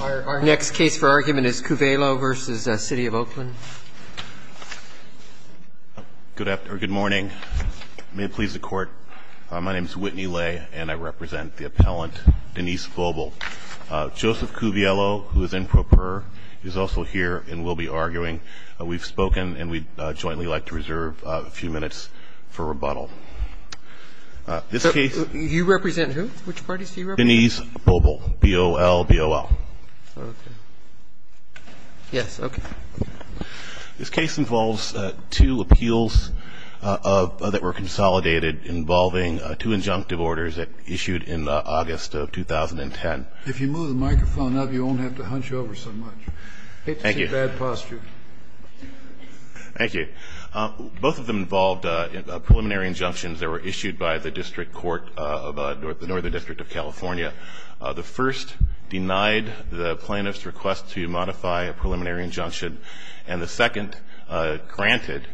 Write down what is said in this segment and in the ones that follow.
Our next case for argument is Cuviello v. City of Oakland. Good morning. May it please the Court, my name is Whitney Lay and I represent the appellant Denise Bobel. Joseph Cuviello, who is in pro per, is also here and will be arguing. We've spoken and we'd jointly like to reserve a few minutes for rebuttal. This case... You represent who? Which parties do you represent? Denise Bobel, B-O-L, B-O-L. Okay. Yes, okay. This case involves two appeals that were consolidated involving two injunctive orders issued in August of 2010. If you move the microphone up, you won't have to hunch over so much. Thank you. I hate to see bad posture. Thank you. Both of them involved preliminary injunctions that were issued by the district court of the Northern District of California. The first denied the plaintiff's request to modify a preliminary injunction and the second granted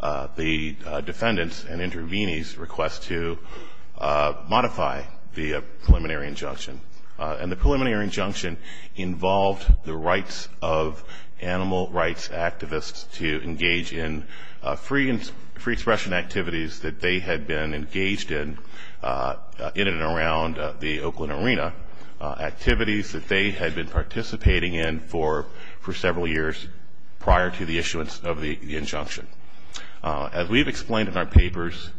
the defendant's and intervenee's request to modify the preliminary injunction. And the preliminary injunction involved the rights of animal rights activists to engage in free expression activities that they had been engaged in in and around the Oakland Arena, activities that they had been participating in for several years prior to the issuance of the injunction. As we have explained in our papers,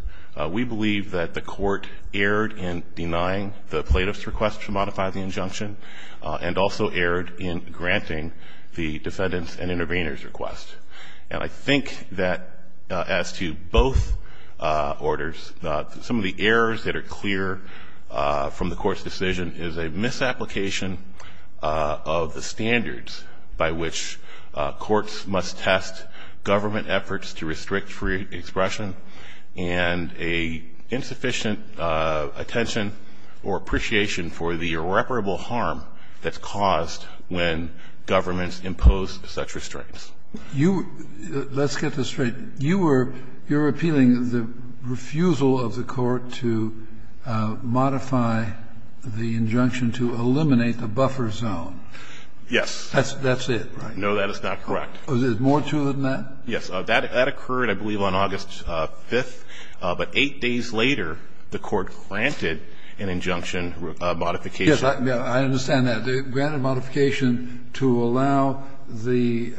we believe that the court erred in denying the plaintiff's request to modify the injunction and also erred in granting the defendant's and intervener's request. And I think that as to both orders, some of the errors that are clear from the court's decision is a misapplication of the standards by which courts must test government efforts to restrict free expression and a insufficient attention or appreciation for the irreparable harm that's caused when governments impose such restraints. Let's get this straight. You were appealing the refusal of the court to modify the injunction to eliminate the buffer zone. Yes. That's it, right? No, that is not correct. Was there more to it than that? Yes. That occurred, I believe, on August 5th. But eight days later, the court granted an injunction modification. Yes, I understand that. It granted a modification to allow the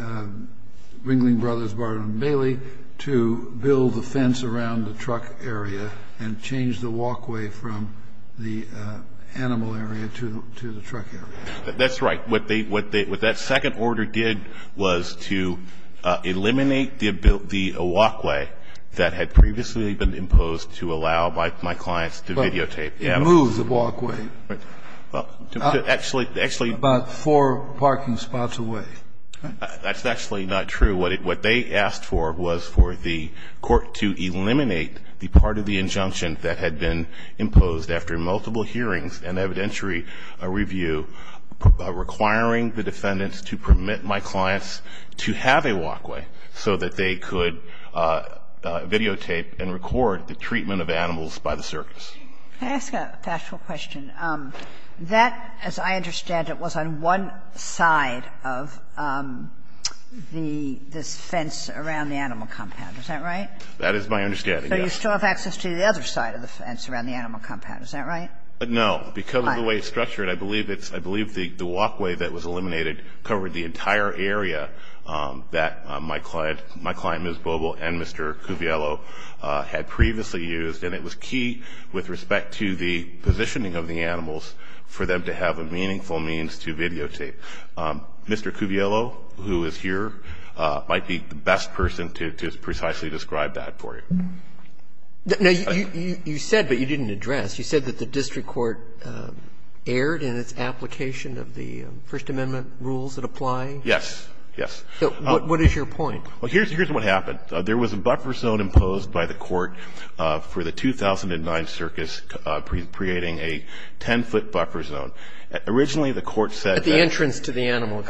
Ringling Brothers, Barton & Bailey, to build the fence around the truck area and change the walkway from the animal area to the truck area. That's right. What that second order did was to eliminate the walkway that had previously been imposed to allow my clients to videotape animals. But it moved the walkway. Actually, actually. About four parking spots away. That's actually not true. What they asked for was for the court to eliminate the part of the injunction that had been imposed after multiple hearings and evidentiary review, requiring the defendants to permit my clients to have a walkway so that they could videotape and record the treatment of animals by the circus. Can I ask a factual question? That, as I understand it, was on one side of the fence around the animal compound. Is that right? That is my understanding, yes. But you still have access to the other side of the fence around the animal compound. Is that right? No. Because of the way it's structured, I believe the walkway that was eliminated covered the entire area that my client, Ms. Bobel, and Mr. Cuviello had previously used. And it was key with respect to the positioning of the animals for them to have a meaningful means to videotape. So I don't think that Mr. Cuviello, who is here, might be the best person to precisely describe that for you. Now, you said, but you didn't address, you said that the district court erred in its application of the First Amendment rules that apply? Yes. Yes. What is your point? Well, here's what happened. There was a buffer zone imposed by the court for the 2009 circus, creating a 10-foot buffer zone. Originally, the court said that the entrance to the animal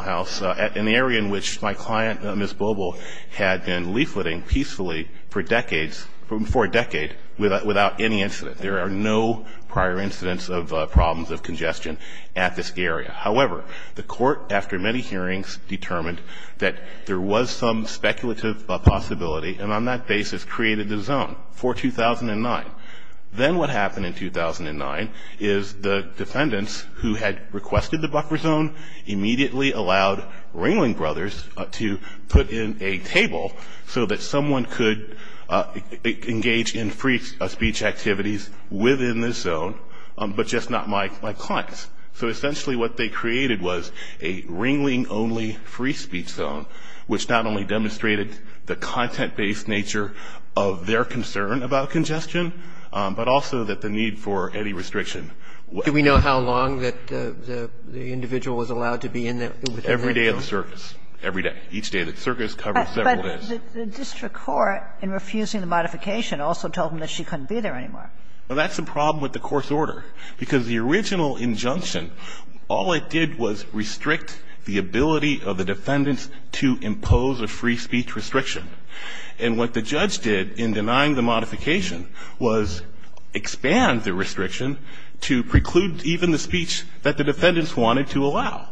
house, an area in which my client, Ms. Bobel, had been leafleting peacefully for decades, for a decade, without any incident. There are no prior incidents of problems of congestion at this area. However, the court, after many hearings, determined that there was some speculative possibility, and on that basis created the zone for 2009. Then what happened in 2009 is the defendants, who had requested the buffer zone, immediately allowed Ringling Brothers to put in a table so that someone could engage in free speech activities within this zone, but just not my clients. So essentially what they created was a Ringling-only free speech zone, which not only demonstrated the content-based nature of their concern about congestion, but also that the need for any restriction. Do we know how long that the individual was allowed to be in there? Every day of the circus. Every day. Each day of the circus covered several days. But the district court, in refusing the modification, also told them that she couldn't be there anymore. Well, that's the problem with the court's order, because the original injunction, all it did was restrict the ability of the defendants to impose a free speech restriction. And what the judge did in denying the modification was expand the restriction to preclude even the speech that the defendants wanted to allow.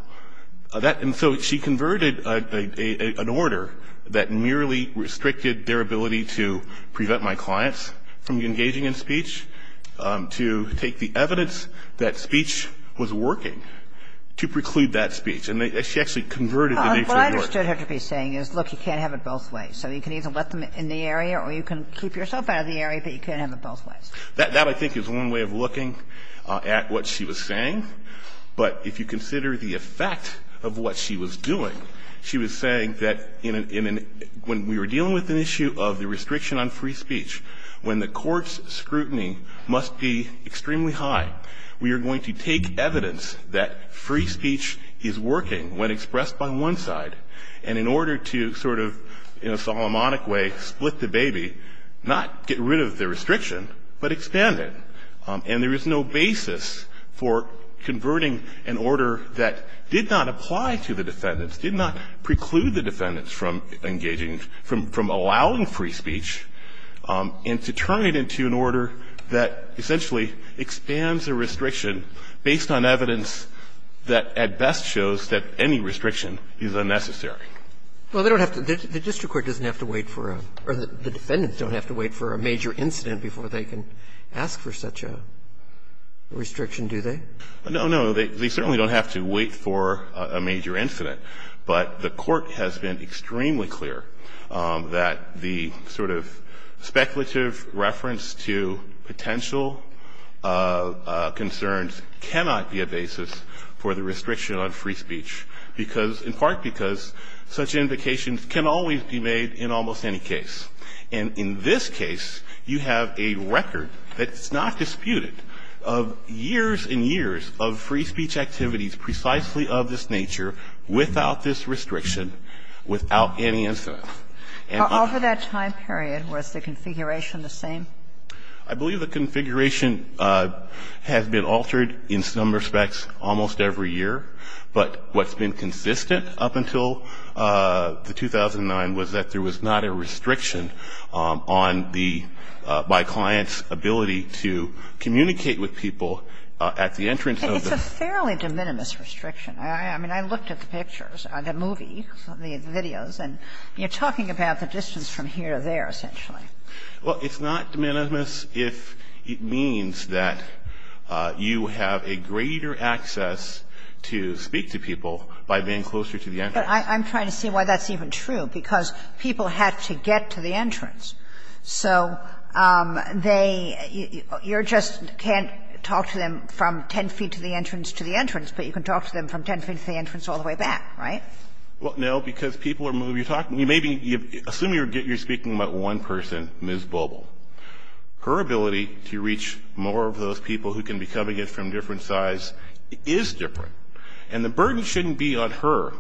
And so she converted an order that merely restricted their ability to prevent my clients from engaging in speech to take the evidence that speech was working, to preclude that speech. And she actually converted the nature of the order. What I understood her to be saying is, look, you can't have it both ways. So you can either let them in the area or you can keep yourself out of the area, but you can't have it both ways. That, I think, is one way of looking at what she was saying. But if you consider the effect of what she was doing, she was saying that in an – when we were dealing with an issue of the restriction on free speech, when the court's scrutiny must be extremely high, we are going to take evidence that free speech is working when expressed by one side, and in order to sort of, in a Solomonic way, split the baby, not get rid of the restriction, but expand it. And there is no basis for converting an order that did not apply to the defendants, did not preclude the defendants from engaging – from allowing free speech, and to turn it into an order that essentially expands a restriction based on evidence that, at best, shows that any restriction is unnecessary. Well, they don't have to – the district court doesn't have to wait for a – or the defendants don't have to wait for a major incident before they can ask for such a restriction, do they? No, no. They certainly don't have to wait for a major incident. But the court has been extremely clear that the sort of speculative reference to potential concerns cannot be a basis for the restriction on free speech because – in part because such invocations can always be made in almost any case. And in this case, you have a record that's not disputed of years and years of free speech without this restriction, without any incident. Over that time period, was the configuration the same? I believe the configuration has been altered in some respects almost every year. But what's been consistent up until the 2009 was that there was not a restriction on the – by clients' ability to communicate with people at the entrance of the It's a fairly de minimis restriction. I mean, I looked at the pictures, the movie, the videos, and you're talking about the distance from here to there, essentially. Well, it's not de minimis if it means that you have a greater access to speak to people by being closer to the entrance. But I'm trying to see why that's even true, because people had to get to the entrance. So they – you just can't talk to them from 10 feet to the entrance to the entrance, but you can talk to them from 10 feet to the entrance all the way back, right? Well, no, because people are moving – you're talking – you may be – assume you're speaking about one person, Ms. Boebel. Her ability to reach more of those people who can be coming in from different sides is different. And the burden shouldn't be on her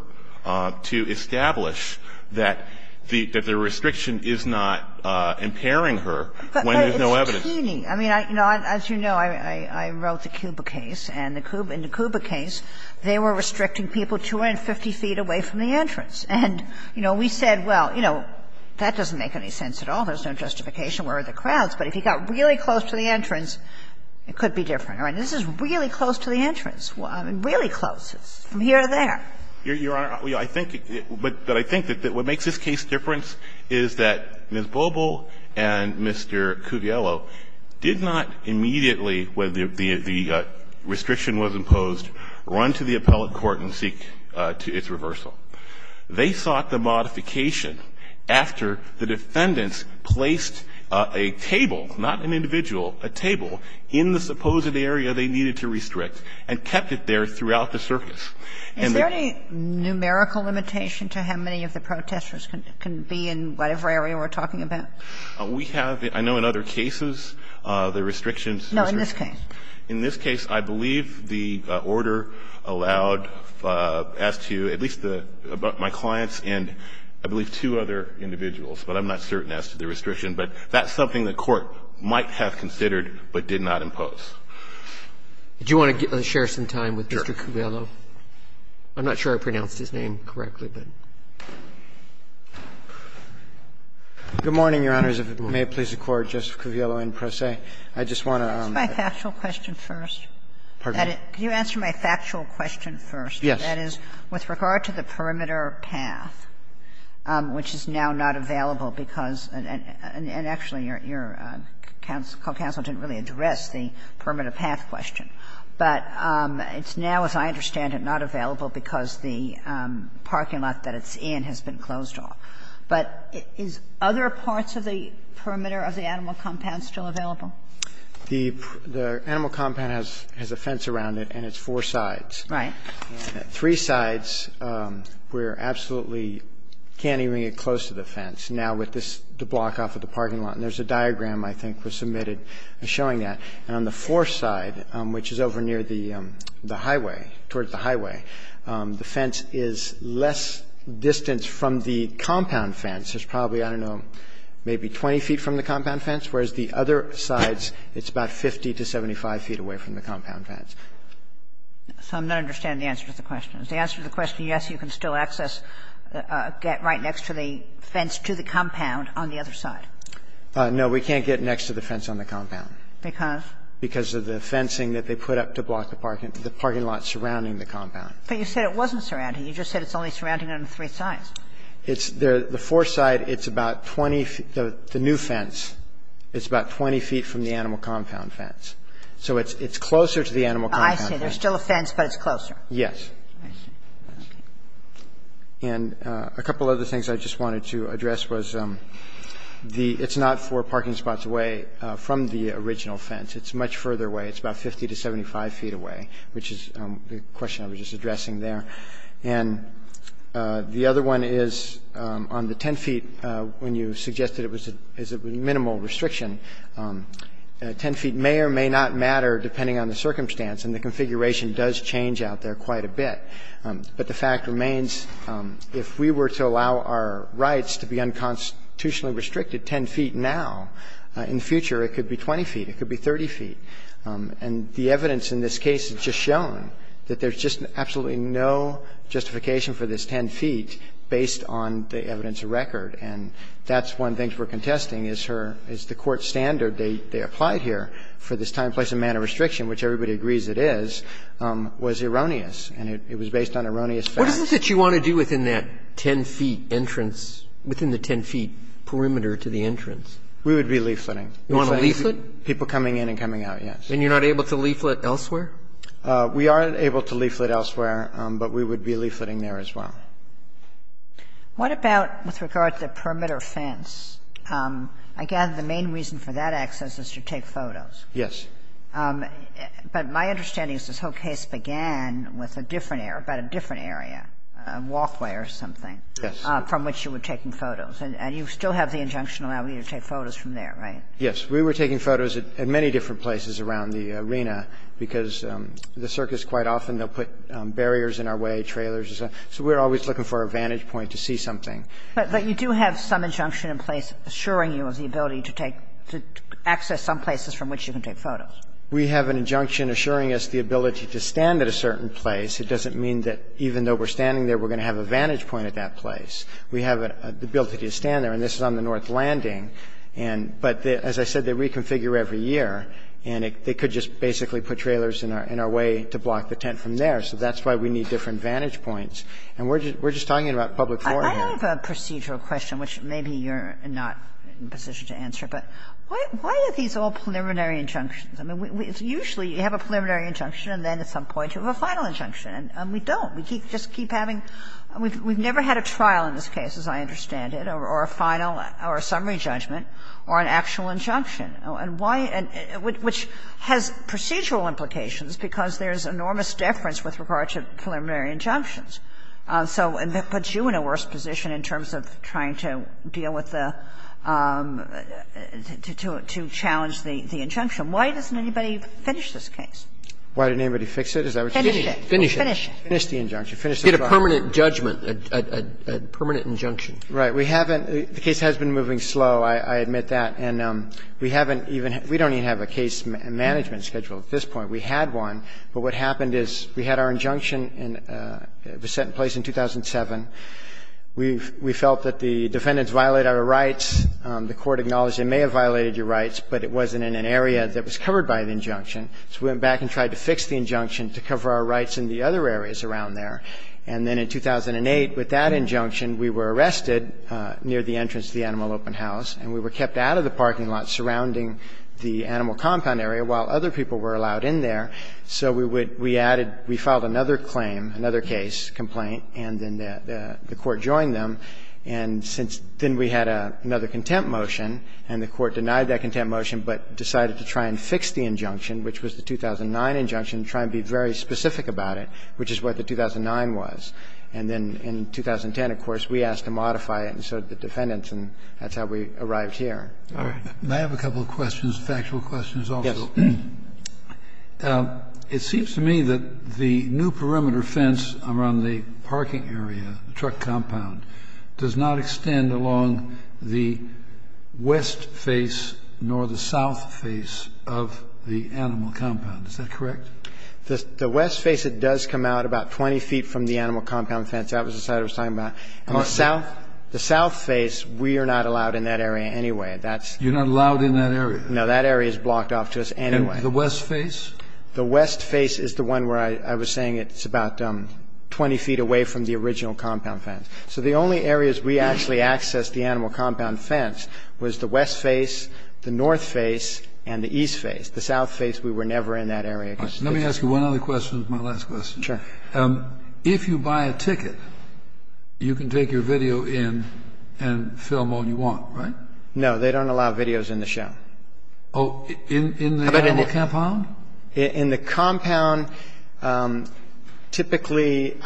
to establish that the – that the restriction is not impairing her when there's no evidence. But it's teeny. I mean, as you know, I wrote the Cuba case, and in the Cuba case, they were restricting people 250 feet away from the entrance. And, you know, we said, well, you know, that doesn't make any sense at all. There's no justification. Where are the crowds? But if you got really close to the entrance, it could be different. I mean, this is really close to the entrance. I mean, really close. It's from here to there. Your Honor, I think – but I think that what makes this case different is that Ms. Boebel did not immediately, when the restriction was imposed, run to the appellate court and seek its reversal. They sought the modification after the defendants placed a table, not an individual, a table in the supposed area they needed to restrict and kept it there throughout the circus. And the – Is there any numerical limitation to how many of the protesters can be in whatever area we're talking about? We have, I know in other cases, the restrictions. No, in this case. In this case, I believe the order allowed as to at least my clients and I believe two other individuals, but I'm not certain as to the restriction. But that's something the Court might have considered but did not impose. Do you want to share some time with Mr. Covello? Sure. I'm not sure I pronounced his name correctly, but. Good morning, Your Honors. If it may please the Court, Justice Kaviello in pro se. I just want to. Can I ask my factual question first? Pardon? Can you answer my factual question first? Yes. That is, with regard to the perimeter path, which is now not available because – and actually, your counsel didn't really address the perimeter path question. But it's now, as I understand it, not available because the parking lot that it's in has been closed off. But is other parts of the perimeter of the animal compound still available? The animal compound has a fence around it, and it's four sides. Right. And at three sides, we're absolutely can't even get close to the fence. Now, with this, the block off of the parking lot. And there's a diagram I think was submitted showing that. And on the fourth side, which is over near the highway, towards the highway, the fence is less distance from the compound fence. It's probably, I don't know, maybe 20 feet from the compound fence. Whereas the other sides, it's about 50 to 75 feet away from the compound fence. So I'm not understanding the answer to the question. If the answer to the question is yes, you can still access, get right next to the fence to the compound on the other side. No. We can't get next to the fence on the compound. Because? Because of the fencing that they put up to block the parking lot surrounding the compound. But you said it wasn't surrounding. You just said it's only surrounding it on three sides. It's there. The fourth side, it's about 20 feet. The new fence, it's about 20 feet from the animal compound fence. So it's closer to the animal compound fence. I see. There's still a fence, but it's closer. Yes. I see. Okay. And a couple other things I just wanted to address was the it's not four parking spots away from the original fence. It's much further away. It's about 50 to 75 feet away, which is the question I was just addressing there. And the other one is on the 10 feet, when you suggested it was a minimal restriction, 10 feet may or may not matter depending on the circumstance. And the configuration does change out there quite a bit. But the fact remains, if we were to allow our rights to be unconstitutionally restricted 10 feet now, in the future it could be 20 feet, it could be 30 feet. And the evidence in this case has just shown that there's just absolutely no justification for this 10 feet based on the evidence of record. And that's one of the things we're contesting is the court standard they applied here for this time, place and manner restriction, which everybody agrees it is, was erroneous. And it was based on erroneous facts. What is it that you want to do within that 10 feet entrance, within the 10 feet perimeter to the entrance? We would be leafleting. You want to leaflet? People coming in and coming out, yes. And you're not able to leaflet elsewhere? We are able to leaflet elsewhere, but we would be leafleting there as well. What about with regard to the perimeter fence? I gather the main reason for that access is to take photos. Yes. But my understanding is this whole case began with a different area, about a different area, a walkway or something. Yes. From which you were taking photos. And you still have the injunction allowing you to take photos from there, right? Yes. We were taking photos at many different places around the arena, because the circus quite often they'll put barriers in our way, trailers or something. So we're always looking for a vantage point to see something. But you do have some injunction in place assuring you of the ability to take to access some places from which you can take photos. We have an injunction assuring us the ability to stand at a certain place. It doesn't mean that even though we're standing there, we're going to have a vantage point at that place. We have the ability to stand there. And this is on the north landing. But as I said, they reconfigure every year. And they could just basically put trailers in our way to block the tent from there. So that's why we need different vantage points. And we're just talking about public forehand. I have a procedural question, which maybe you're not in a position to answer. But why are these all preliminary injunctions? I mean, usually you have a preliminary injunction, and then at some point you have a final injunction. And we don't. We just keep having we've never had a trial in this case, as I understand it, or a final or a summary judgment, or an actual injunction. And why and which has procedural implications, because there's enormous deference with regard to preliminary injunctions. So that puts you in a worse position in terms of trying to deal with the to challenge the injunction. Why doesn't anybody finish this case? Why didn't anybody fix it? Finish it. Finish it. Finish the injunction. Finish the trial. You get a permanent judgment, a permanent injunction. Right. We haven't the case has been moving slow, I admit that. And we haven't even we don't even have a case management schedule at this point. We had one. But what happened is we had our injunction and it was set in place in 2007. We felt that the defendants violated our rights. The court acknowledged they may have violated your rights, but it wasn't in an area that was covered by the injunction. So we went back and tried to fix the injunction to cover our rights in the other areas around there. And then in 2008, with that injunction, we were arrested near the entrance to the Animal Open House and we were kept out of the parking lot surrounding the animal compound area while other people were allowed in there. So we would we added we filed another claim, another case complaint, and then the court joined them. And since then we had another contempt motion and the court denied that contempt motion but decided to try and fix the injunction, which was the 2009 injunction, try and be very specific about it, which is what the 2009 was. And then in 2010, of course, we asked to modify it. And so the defendants and that's how we arrived here. All right. I have a couple of questions, factual questions. Also, it seems to me that the new perimeter fence around the parking area truck compound does not extend along the west face nor the south face of the animal compound. Is that correct? The west face, it does come out about 20 feet from the animal compound fence. That was the side I was talking about. The south face, we are not allowed in that area anyway. You're not allowed in that area? No, that area is blocked off to us anyway. The west face? The west face is the one where I was saying it's about 20 feet away from the original compound fence. So the only areas we actually accessed the animal compound fence was the west face, the north face, and the east face. The south face, we were never in that area. Let me ask you one other question. It's my last question. Sure. If you buy a ticket, you can take your video in and film all you want, right? No, they don't allow videos in the show. Oh, in the animal compound? In the compound, typically,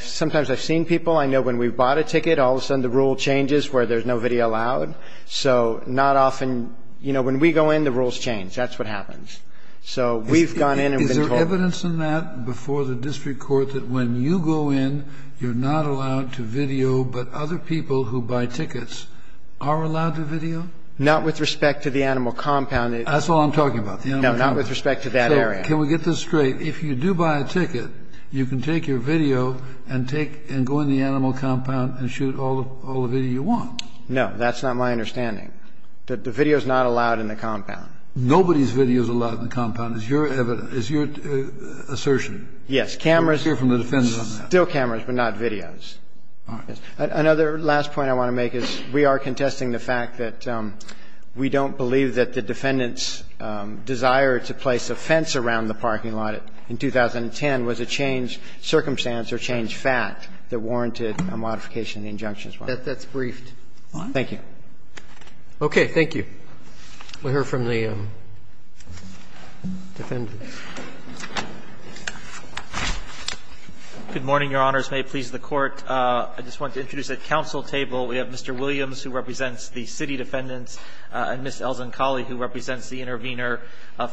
sometimes I've seen people. I know when we bought a ticket, all of a sudden the rule changes where there's no video allowed. So not often, you know, when we go in, the rules change. That's what happens. So we've gone in and been told. Is there evidence in that before the district court that when you go in, you're not allowed to video, but other people who buy tickets are allowed to video? Not with respect to the animal compound. That's all I'm talking about, the animal compound. No, not with respect to that area. So can we get this straight? If you do buy a ticket, you can take your video and go in the animal compound and shoot all the video you want? No, that's not my understanding. The video is not allowed in the compound. Nobody's video is allowed in the compound, is your assertion. Yes. Cameras. Still cameras, but not videos. All right. Another last point I want to make is we are contesting the fact that we don't believe that the defendant's desire to place a fence around the parking lot in 2010 was a changed circumstance or changed fact that warranted a modification of the injunction as well. That's briefed. Thank you. Okay. Thank you. We'll hear from the defendant. Good morning, Your Honors. May it please the Court. I just want to introduce at council table, we have Mr. Williams, who represents the city defendants, and Ms. Elzencalli, who represents the intervener,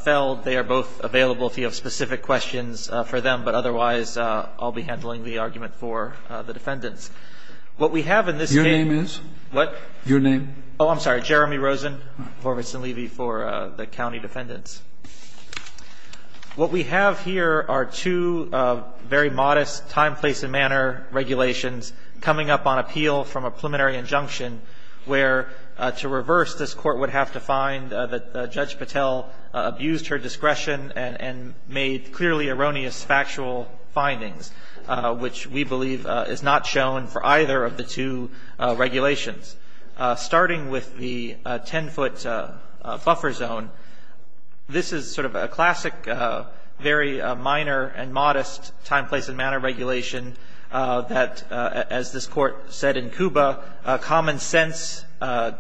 Feld. They are both available if you have specific questions for them, but otherwise I'll be handling the argument for the defendants. What we have in this case Your name is? What? Your name. Oh, I'm sorry. Jeremy Rosen, Horvitz & Levy for the county defendants. What we have here are two very modest time, place, and manner regulations coming up on appeal from a preliminary injunction where, to reverse, this Court would have to find that Judge Patel abused her discretion and made clearly erroneous factual findings, which we believe is not shown for either of the two regulations. Starting with the 10-foot buffer zone, this is sort of a classic, very minor and modest time, place, and manner regulation that, as this Court said in Cuba, common sense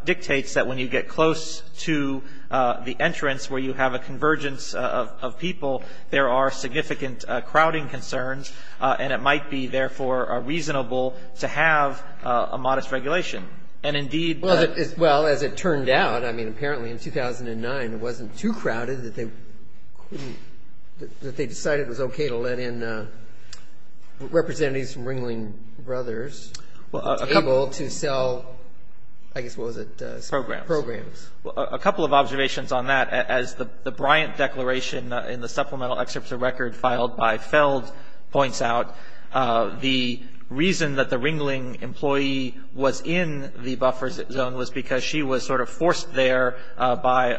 dictates that when you get close to the entrance where you have a convergence of people, there are significant crowding concerns, and it might be, therefore, reasonable to have a modest regulation. And, indeed, but... Well, as it turned out, I mean, apparently in 2009 it wasn't too crowded that they couldn't, that they decided it was okay to let in representatives from Ringling Brothers to be able to sell, I guess, what was it? Programs. Programs. Well, a couple of observations on that. As the Bryant declaration in the supplemental excerpts of record filed by Feld points out, the reason that the Ringling employee was in the buffer zone was because she was sort of forced there by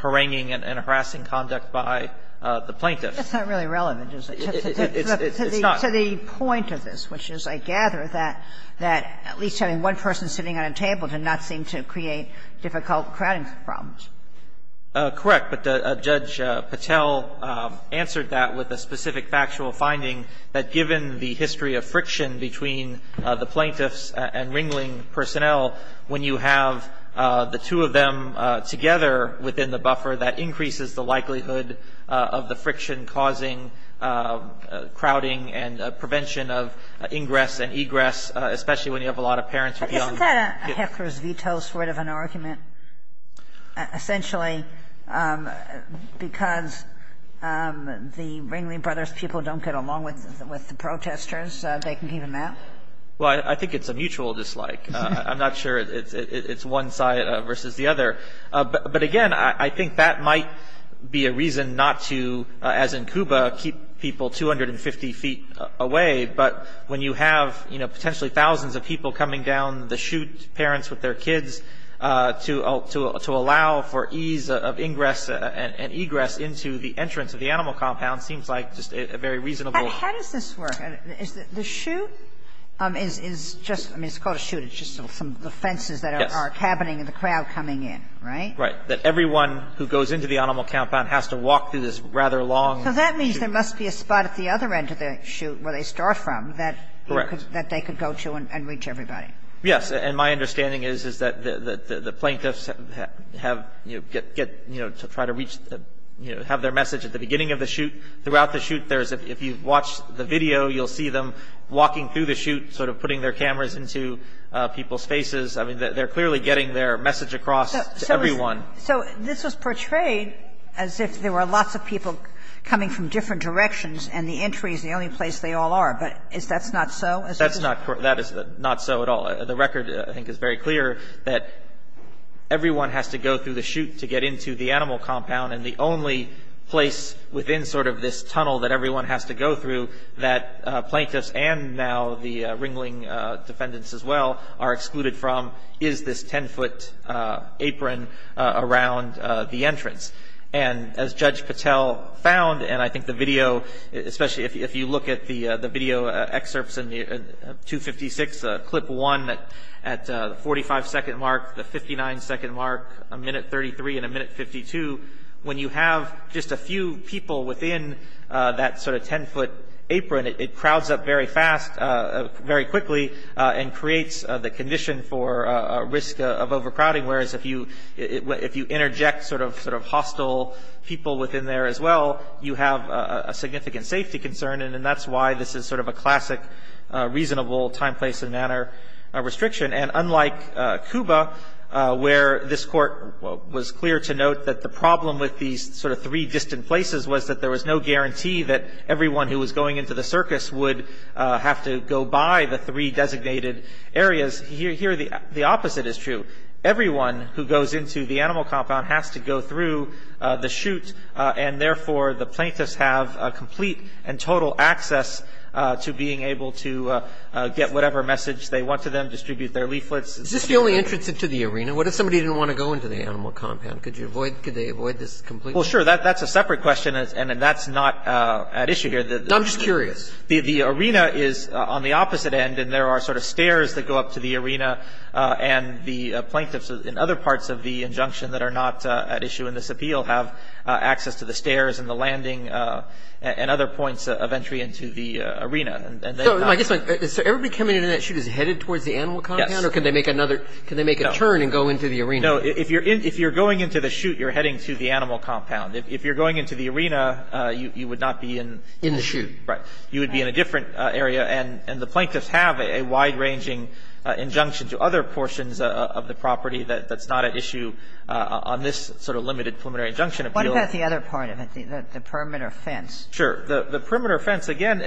haranguing and harassing conduct by the plaintiff. That's not really relevant, is it? It's not. To the point of this, which is, I gather, that at least having one person sitting at a table did not seem to create difficult crowding problems. Correct. But Judge Patel answered that with a specific factual finding, that given the history of friction between the plaintiffs and Ringling personnel, when you have the two of them together within the buffer, that increases the likelihood of the friction causing crowding and prevention of ingress and egress, especially when you have a lot of parents with young kids. Isn't that a heckler's veto sort of an argument, essentially, because the Ringling brothers' people don't get along with the protesters, they can keep them out? Well, I think it's a mutual dislike. I'm not sure it's one side versus the other. But, again, I think that might be a reason not to, as in Cuba, keep people 250 feet away, but when you have, you know, potentially thousands of people coming down the chute, parents with their kids, to allow for ease of ingress and egress into the entrance of the animal compound seems like just a very reasonable. How does this work? The chute is just – I mean, it's called a chute, it's just some of the fences that are cabining and the crowd coming in, right? Right. That everyone who goes into the animal compound has to walk through this rather long chute. Because there must be a spot at the other end of the chute where they start from that they could go to and reach everybody. Yes, and my understanding is that the plaintiffs have, you know, to try to reach – have their message at the beginning of the chute. Throughout the chute, if you watch the video, you'll see them walking through the chute, sort of putting their cameras into people's faces. I mean, they're clearly getting their message across to everyone. So this was portrayed as if there were lots of people coming from different directions and the entry is the only place they all are. But is that not so? That's not – that is not so at all. The record, I think, is very clear that everyone has to go through the chute to get into the animal compound, and the only place within sort of this tunnel that everyone has to go through that plaintiffs and now the Ringling defendants as well are excluded from is this 10-foot apron around the entrance. And as Judge Patel found, and I think the video – especially if you look at the video excerpts in 256, clip one at the 45-second mark, the 59-second mark, a minute 33, and a minute 52, when you have just a few people within that sort of 10-foot apron, it crowds up very fast, very quickly, and creates the condition for a risk of overcrowding, whereas if you interject sort of hostile people within there as well, you have a significant safety concern, and that's why this is sort of a classic reasonable time, place, and manner restriction. And unlike Cuba, where this Court was clear to note that the problem with these sort of three distant places was that there was no guarantee that everyone who was going into the circus would have to go by the three designated areas, here the opposite is true. Everyone who goes into the animal compound has to go through the chute, and therefore the plaintiffs have complete and total access to being able to get whatever message they want to them, distribute their leaflets. Is this the only entrance into the arena? What if somebody didn't want to go into the animal compound? Could you avoid, could they avoid this completely? Well, sure. That's a separate question, and that's not at issue here. I'm just curious. The arena is on the opposite end, and there are sort of stairs that go up to the arena, and the plaintiffs in other parts of the injunction that are not at issue in this appeal have access to the stairs and the landing and other points of entry into the arena. So everybody coming into that chute is headed towards the animal compound? Yes. Or can they make another, can they make a turn and go into the arena? No. If you're going into the chute, you're heading to the animal compound. If you're going into the arena, you would not be in the chute. Right. You would be in a different area. And the plaintiffs have a wide-ranging injunction to other portions of the property that's not at issue on this sort of limited preliminary injunction appeal. What about the other part of it, the perimeter fence? Sure. The perimeter fence, again,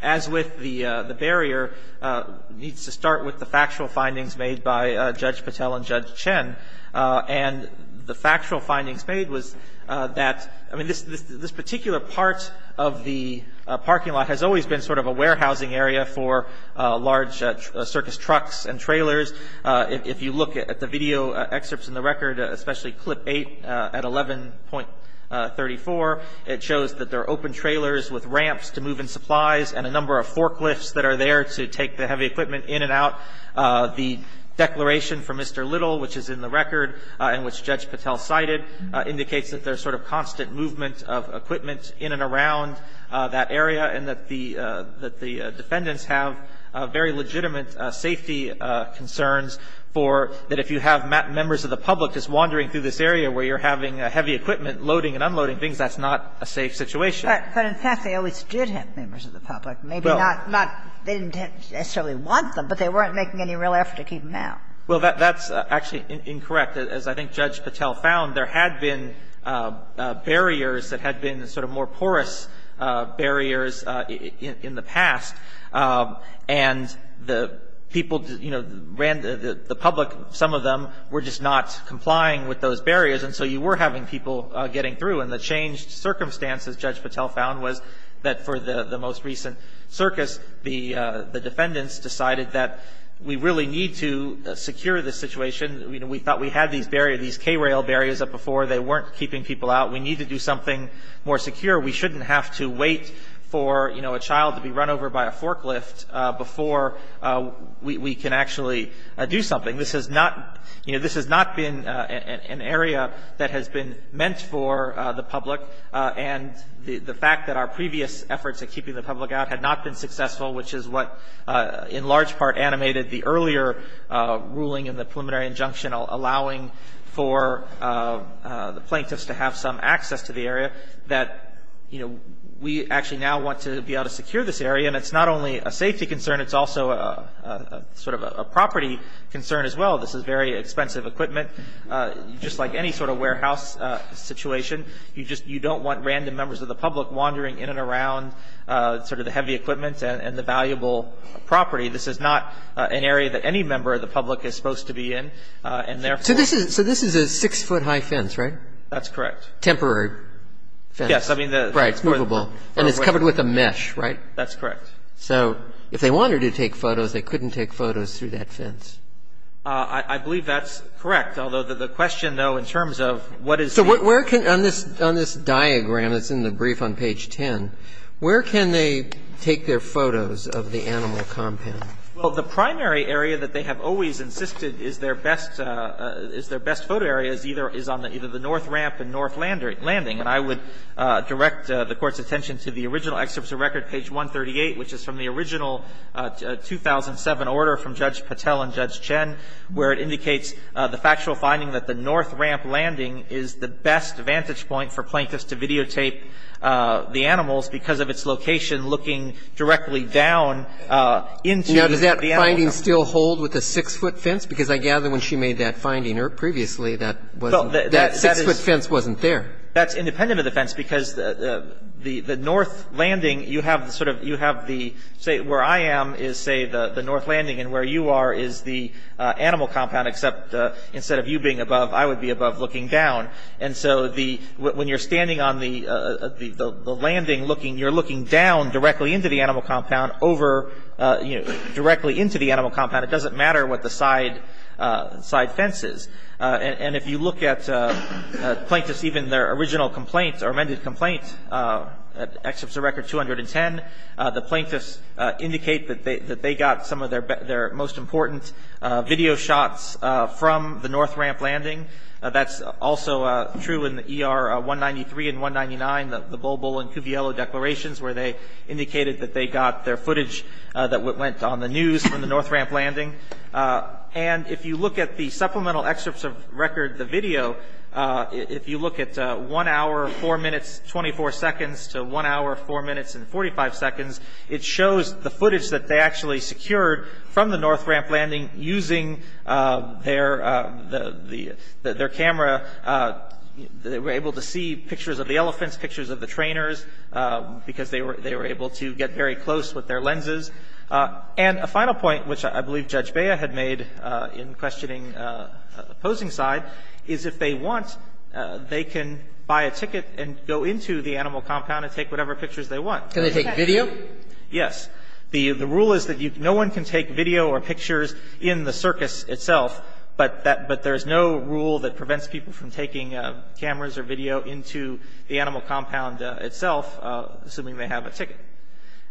as with the barrier, needs to start with the factual findings made by Judge Patel and Judge Chen. And the factual findings made was that this particular part of the parking lot has always been sort of a warehousing area for large circus trucks and trailers. If you look at the video excerpts in the record, especially clip 8 at 11.34, it shows that there are open trailers with ramps to move in supplies and a number of forklifts that are there to take the heavy equipment in and out. The declaration from Mr. Little, which is in the record and which Judge Patel cited, indicates that there's sort of constant movement of equipment in and around that area and that the defendants have very legitimate safety concerns for that if you have members of the public just wandering through this area where you're having heavy equipment loading and unloading things, that's not a safe situation. But in fact, they always did have members of the public. Well. Maybe not they didn't necessarily want them, but they weren't making any real effort to keep them out. Well, that's actually incorrect. As I think Judge Patel found, there had been barriers that had been sort of more porous barriers in the past. And the people, you know, ran the public, some of them were just not complying with those barriers. And so you were having people getting through. And the changed circumstances Judge Patel found was that for the most recent circus, the defendants decided that we really need to secure this situation. We thought we had these barriers, these K-rail barriers up before. They weren't keeping people out. We need to do something more secure. We shouldn't have to wait for, you know, a child to be run over by a forklift before we can actually do something. This has not, you know, this has not been an area that has been meant for the public. And the fact that our previous efforts at keeping the public out had not been successful, which is what in large part animated the earlier ruling in the preliminary injunction allowing for the plaintiffs to have some access to the area, that, you know, we actually now want to be able to secure this area. Again, it's not only a safety concern, it's also a sort of a property concern as well. This is very expensive equipment. Just like any sort of warehouse situation, you just, you don't want random members of the public wandering in and around sort of the heavy equipment and the valuable property. This is not an area that any member of the public is supposed to be in, and therefore. So this is a six-foot high fence, right? That's correct. Temporary fence. Yes, I mean the. Right, it's movable. And it's covered with a mesh, right? That's correct. So if they wanted to take photos, they couldn't take photos through that fence? I believe that's correct. Although the question, though, in terms of what is. So where can, on this diagram that's in the brief on page 10, where can they take their photos of the animal compound? Well, the primary area that they have always insisted is their best photo area is either on the north ramp and north landing. And I would direct the Court's attention to the original excerpt of the record, page 138, which is from the original 2007 order from Judge Patel and Judge Chen, where it indicates the factual finding that the north ramp landing is the best vantage point for plaintiffs to videotape the animals because of its location looking directly down into the animal compound. Now, does that finding still hold with the six-foot fence? Because I gather when she made that finding previously, that wasn't, that six-foot fence wasn't there. That's independent of the fence because the north landing, you have the sort of, you have the, say, where I am is, say, the north landing and where you are is the animal compound except instead of you being above, I would be above looking down. And so the, when you're standing on the landing looking, you're looking down directly into the animal compound over, you know, directly into the animal compound. It doesn't matter what the side fence is. And if you look at plaintiffs, even their original complaints or amended complaints except for record 210, the plaintiffs indicate that they got some of their most important video shots from the north ramp landing. That's also true in the ER 193 and 199, the Bulbul and Cuviello declarations where they indicated that they got their footage that went on the news from the north ramp landing. And if you look at the supplemental excerpts of record, the video, if you look at one hour, four minutes, 24 seconds to one hour, four minutes and 45 seconds, it shows the footage that they actually secured from the north ramp landing using their camera. They were able to see pictures of the elephants, pictures of the trainers because they were able to get very close with their lenses. And a final point, which I believe Judge Baya had made in questioning the opposing side, is if they want, they can buy a ticket and go into the animal compound and take whatever pictures they want. Can they take video? Yes. The rule is that no one can take video or pictures in the circus itself, but there's no rule that prevents people from taking cameras or video into the animal compound itself, assuming they have a ticket.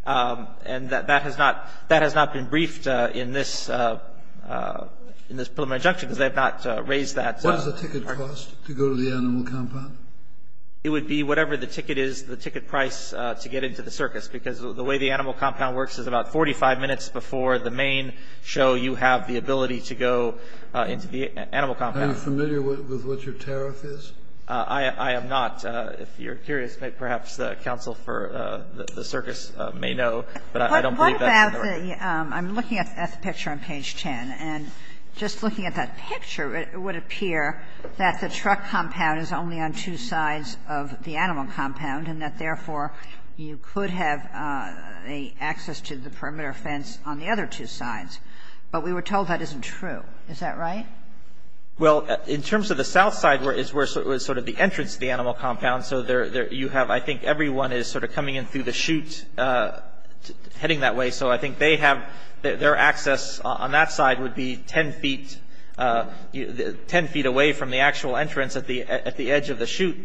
And that has not been briefed in this preliminary injunction because they have not raised that. What does the ticket cost to go to the animal compound? It would be whatever the ticket is, the ticket price to get into the circus because the way the animal compound works is about 45 minutes before the main show you have the ability to go into the animal compound. Are you familiar with what your tariff is? I am not. If you're curious, perhaps the counsel for the circus may know, but I don't believe that. I'm looking at the picture on page 10, and just looking at that picture, it would appear that the truck compound is only on two sides of the animal compound and that, therefore, you could have access to the perimeter fence on the other two sides. But we were told that isn't true. Is that right? Well, in terms of the south side is where sort of the entrance to the animal compound. So you have, I think, everyone is sort of coming in through the chute heading that way. So I think they have their access on that side would be 10 feet away from the actual entrance at the edge of the chute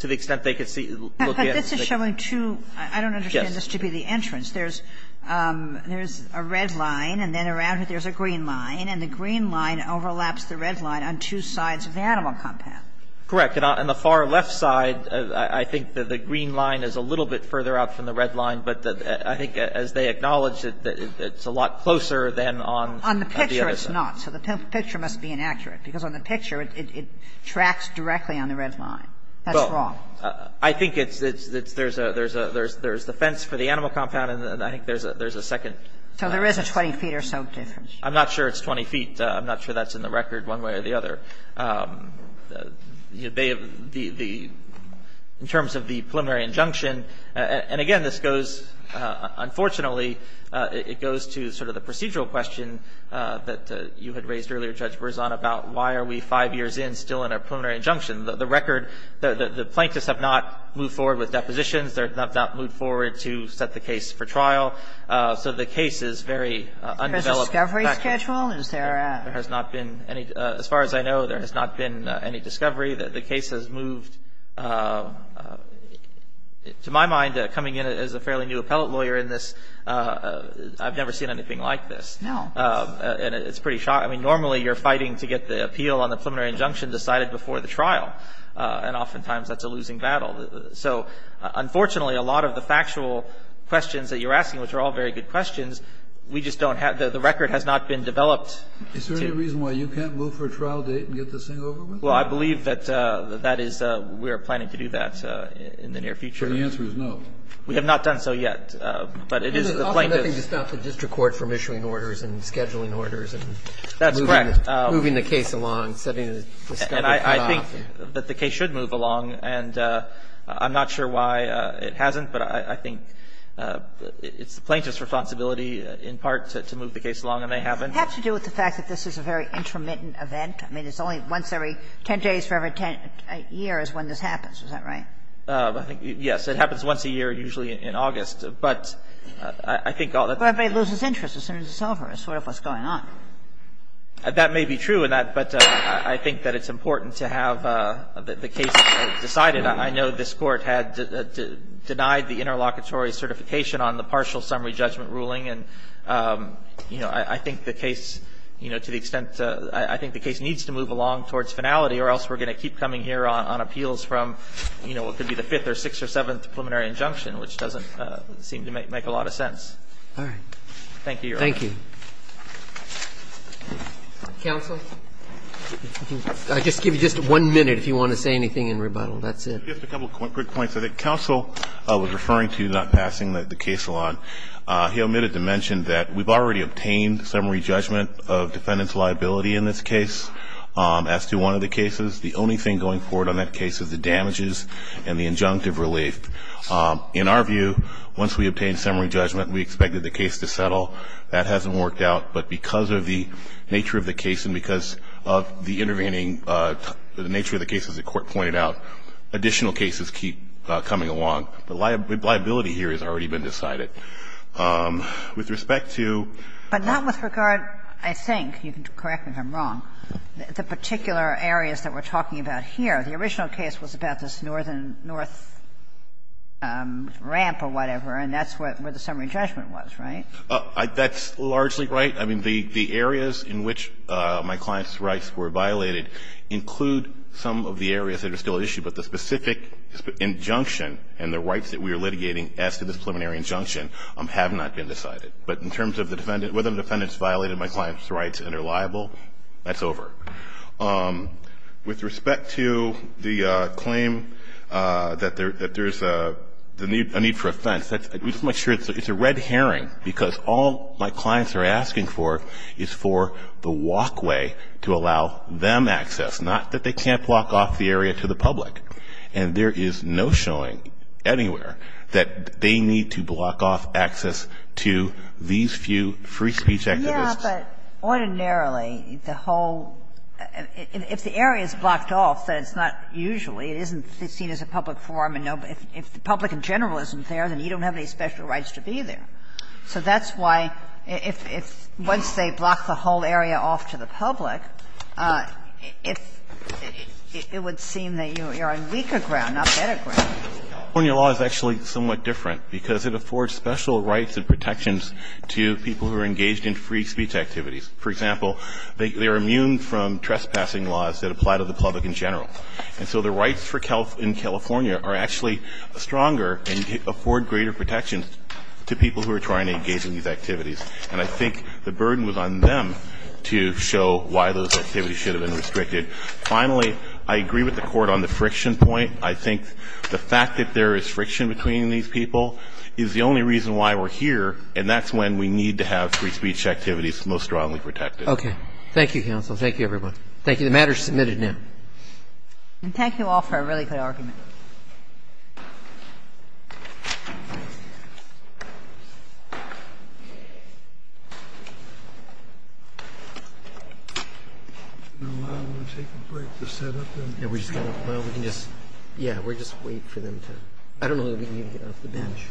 to the extent they could look in. But this is showing two. I don't understand this to be the entrance. There's a red line, and then around it there's a green line. And the green line overlaps the red line on two sides of the animal compound. Correct. And on the far left side, I think that the green line is a little bit further out from the red line. But I think as they acknowledge it, it's a lot closer than on the other side. On the picture, it's not. So the picture must be inaccurate, because on the picture, it tracks directly on the red line. That's wrong. Well, I think it's there's a fence for the animal compound, and I think there's a second fence. So there is a 20 feet or so difference. I'm not sure it's 20 feet. I'm not sure that's in the record one way or the other. In terms of the preliminary injunction, and again, this goes unfortunately it goes to sort of the procedural question that you had raised earlier, Judge Berzon, about why are we five years in still in a preliminary injunction. The record, the plaintiffs have not moved forward with depositions. They have not moved forward to set the case for trial. So the case is very undeveloped. Is there a discovery schedule? As far as I know, there has not been any discovery. The case has moved. To my mind, coming in as a fairly new appellate lawyer in this, I've never seen anything like this. No. And it's pretty shocking. Normally, you're fighting to get the appeal on the preliminary injunction decided before the trial. And oftentimes, that's a losing battle. So unfortunately, a lot of the factual questions that you're asking, which are all very good questions, we just don't have the record has not been developed. Is there any reason why you can't move for a trial date and get this thing over with? Well, I believe that that is we are planning to do that in the near future. So the answer is no. We have not done so yet. But it is the plaintiff's. There's often nothing to stop the district court from issuing orders and scheduling orders and moving the case along, setting the discovery cutoff. And I think that the case should move along. And I'm not sure why it hasn't. But I think it's the plaintiff's responsibility in part to move the case along, and they haven't. It has to do with the fact that this is a very intermittent event. I mean, it's only once every 10 days for every 10 years when this happens. Is that right? I think, yes. It happens once a year, usually in August. But I think all the time. But everybody loses interest as soon as it's over. It's sort of what's going on. That may be true. But I think that it's important to have the case decided. I know this Court had denied the interlocutory certification on the partial summary judgment ruling. And I think the case, to the extent, I think the case needs to move along towards finality or else we're going to keep coming here on appeals from what could be the fifth or sixth or seventh preliminary injunction, which doesn't seem to make a lot of sense. All right. Thank you, Your Honor. Thank you. Counsel? I'll just give you just one minute if you want to say anything in rebuttal. That's it. Just a couple quick points. I think counsel was referring to not passing the case along. He omitted to mention that we've already obtained summary judgment of defendant's liability in this case as to one of the cases. The only thing going forward on that case is the damages and the injunctive relief. In our view, once we obtain summary judgment, we expected the case to settle. That hasn't worked. That hasn't worked out. But because of the nature of the case and because of the intervening – the nature of the case, as the Court pointed out, additional cases keep coming along. The liability here has already been decided. With respect to – But not with regard, I think – you can correct me if I'm wrong – the particular areas that we're talking about here. The original case was about this northern north ramp or whatever, and that's where the summary judgment was, right? That's largely right. I mean, the areas in which my client's rights were violated include some of the areas that are still at issue. But the specific injunction and the rights that we are litigating as to this preliminary injunction have not been decided. But in terms of whether the defendant's violated my client's rights and are liable, that's over. With respect to the claim that there's a need for offense, we just want to make it clear that there is a need for offense. And it's a red herring, because all my clients are asking for is for the walkway to allow them access, not that they can't block off the area to the public. And there is no showing anywhere that they need to block off access to these few free speech activists. Yeah, but ordinarily, the whole – if the area is blocked off, then it's not usually. It isn't seen as a public forum, and if the public in general isn't there, then you don't have any special rights to be there. So that's why if – once they block the whole area off to the public, it would seem that you are on weaker ground, not better ground. California law is actually somewhat different, because it affords special rights and protections to people who are engaged in free speech activities. For example, they are immune from trespassing laws that apply to the public in general. And so the rights in California are actually stronger and afford greater protections to people who are trying to engage in these activities. And I think the burden was on them to show why those activities should have been restricted. Finally, I agree with the Court on the friction point. I think the fact that there is friction between these people is the only reason why we're here, and that's when we need to have free speech activities most strongly protected. Okay. Thank you, counsel. Thank you, everyone. Thank you. The matter is submitted now. And thank you all for a really good argument. I'm going to take a break to set up. Yeah, we're just going to – well, we can just – yeah, we'll just wait for them to – I don't know that we can even get off the bench. Thank you.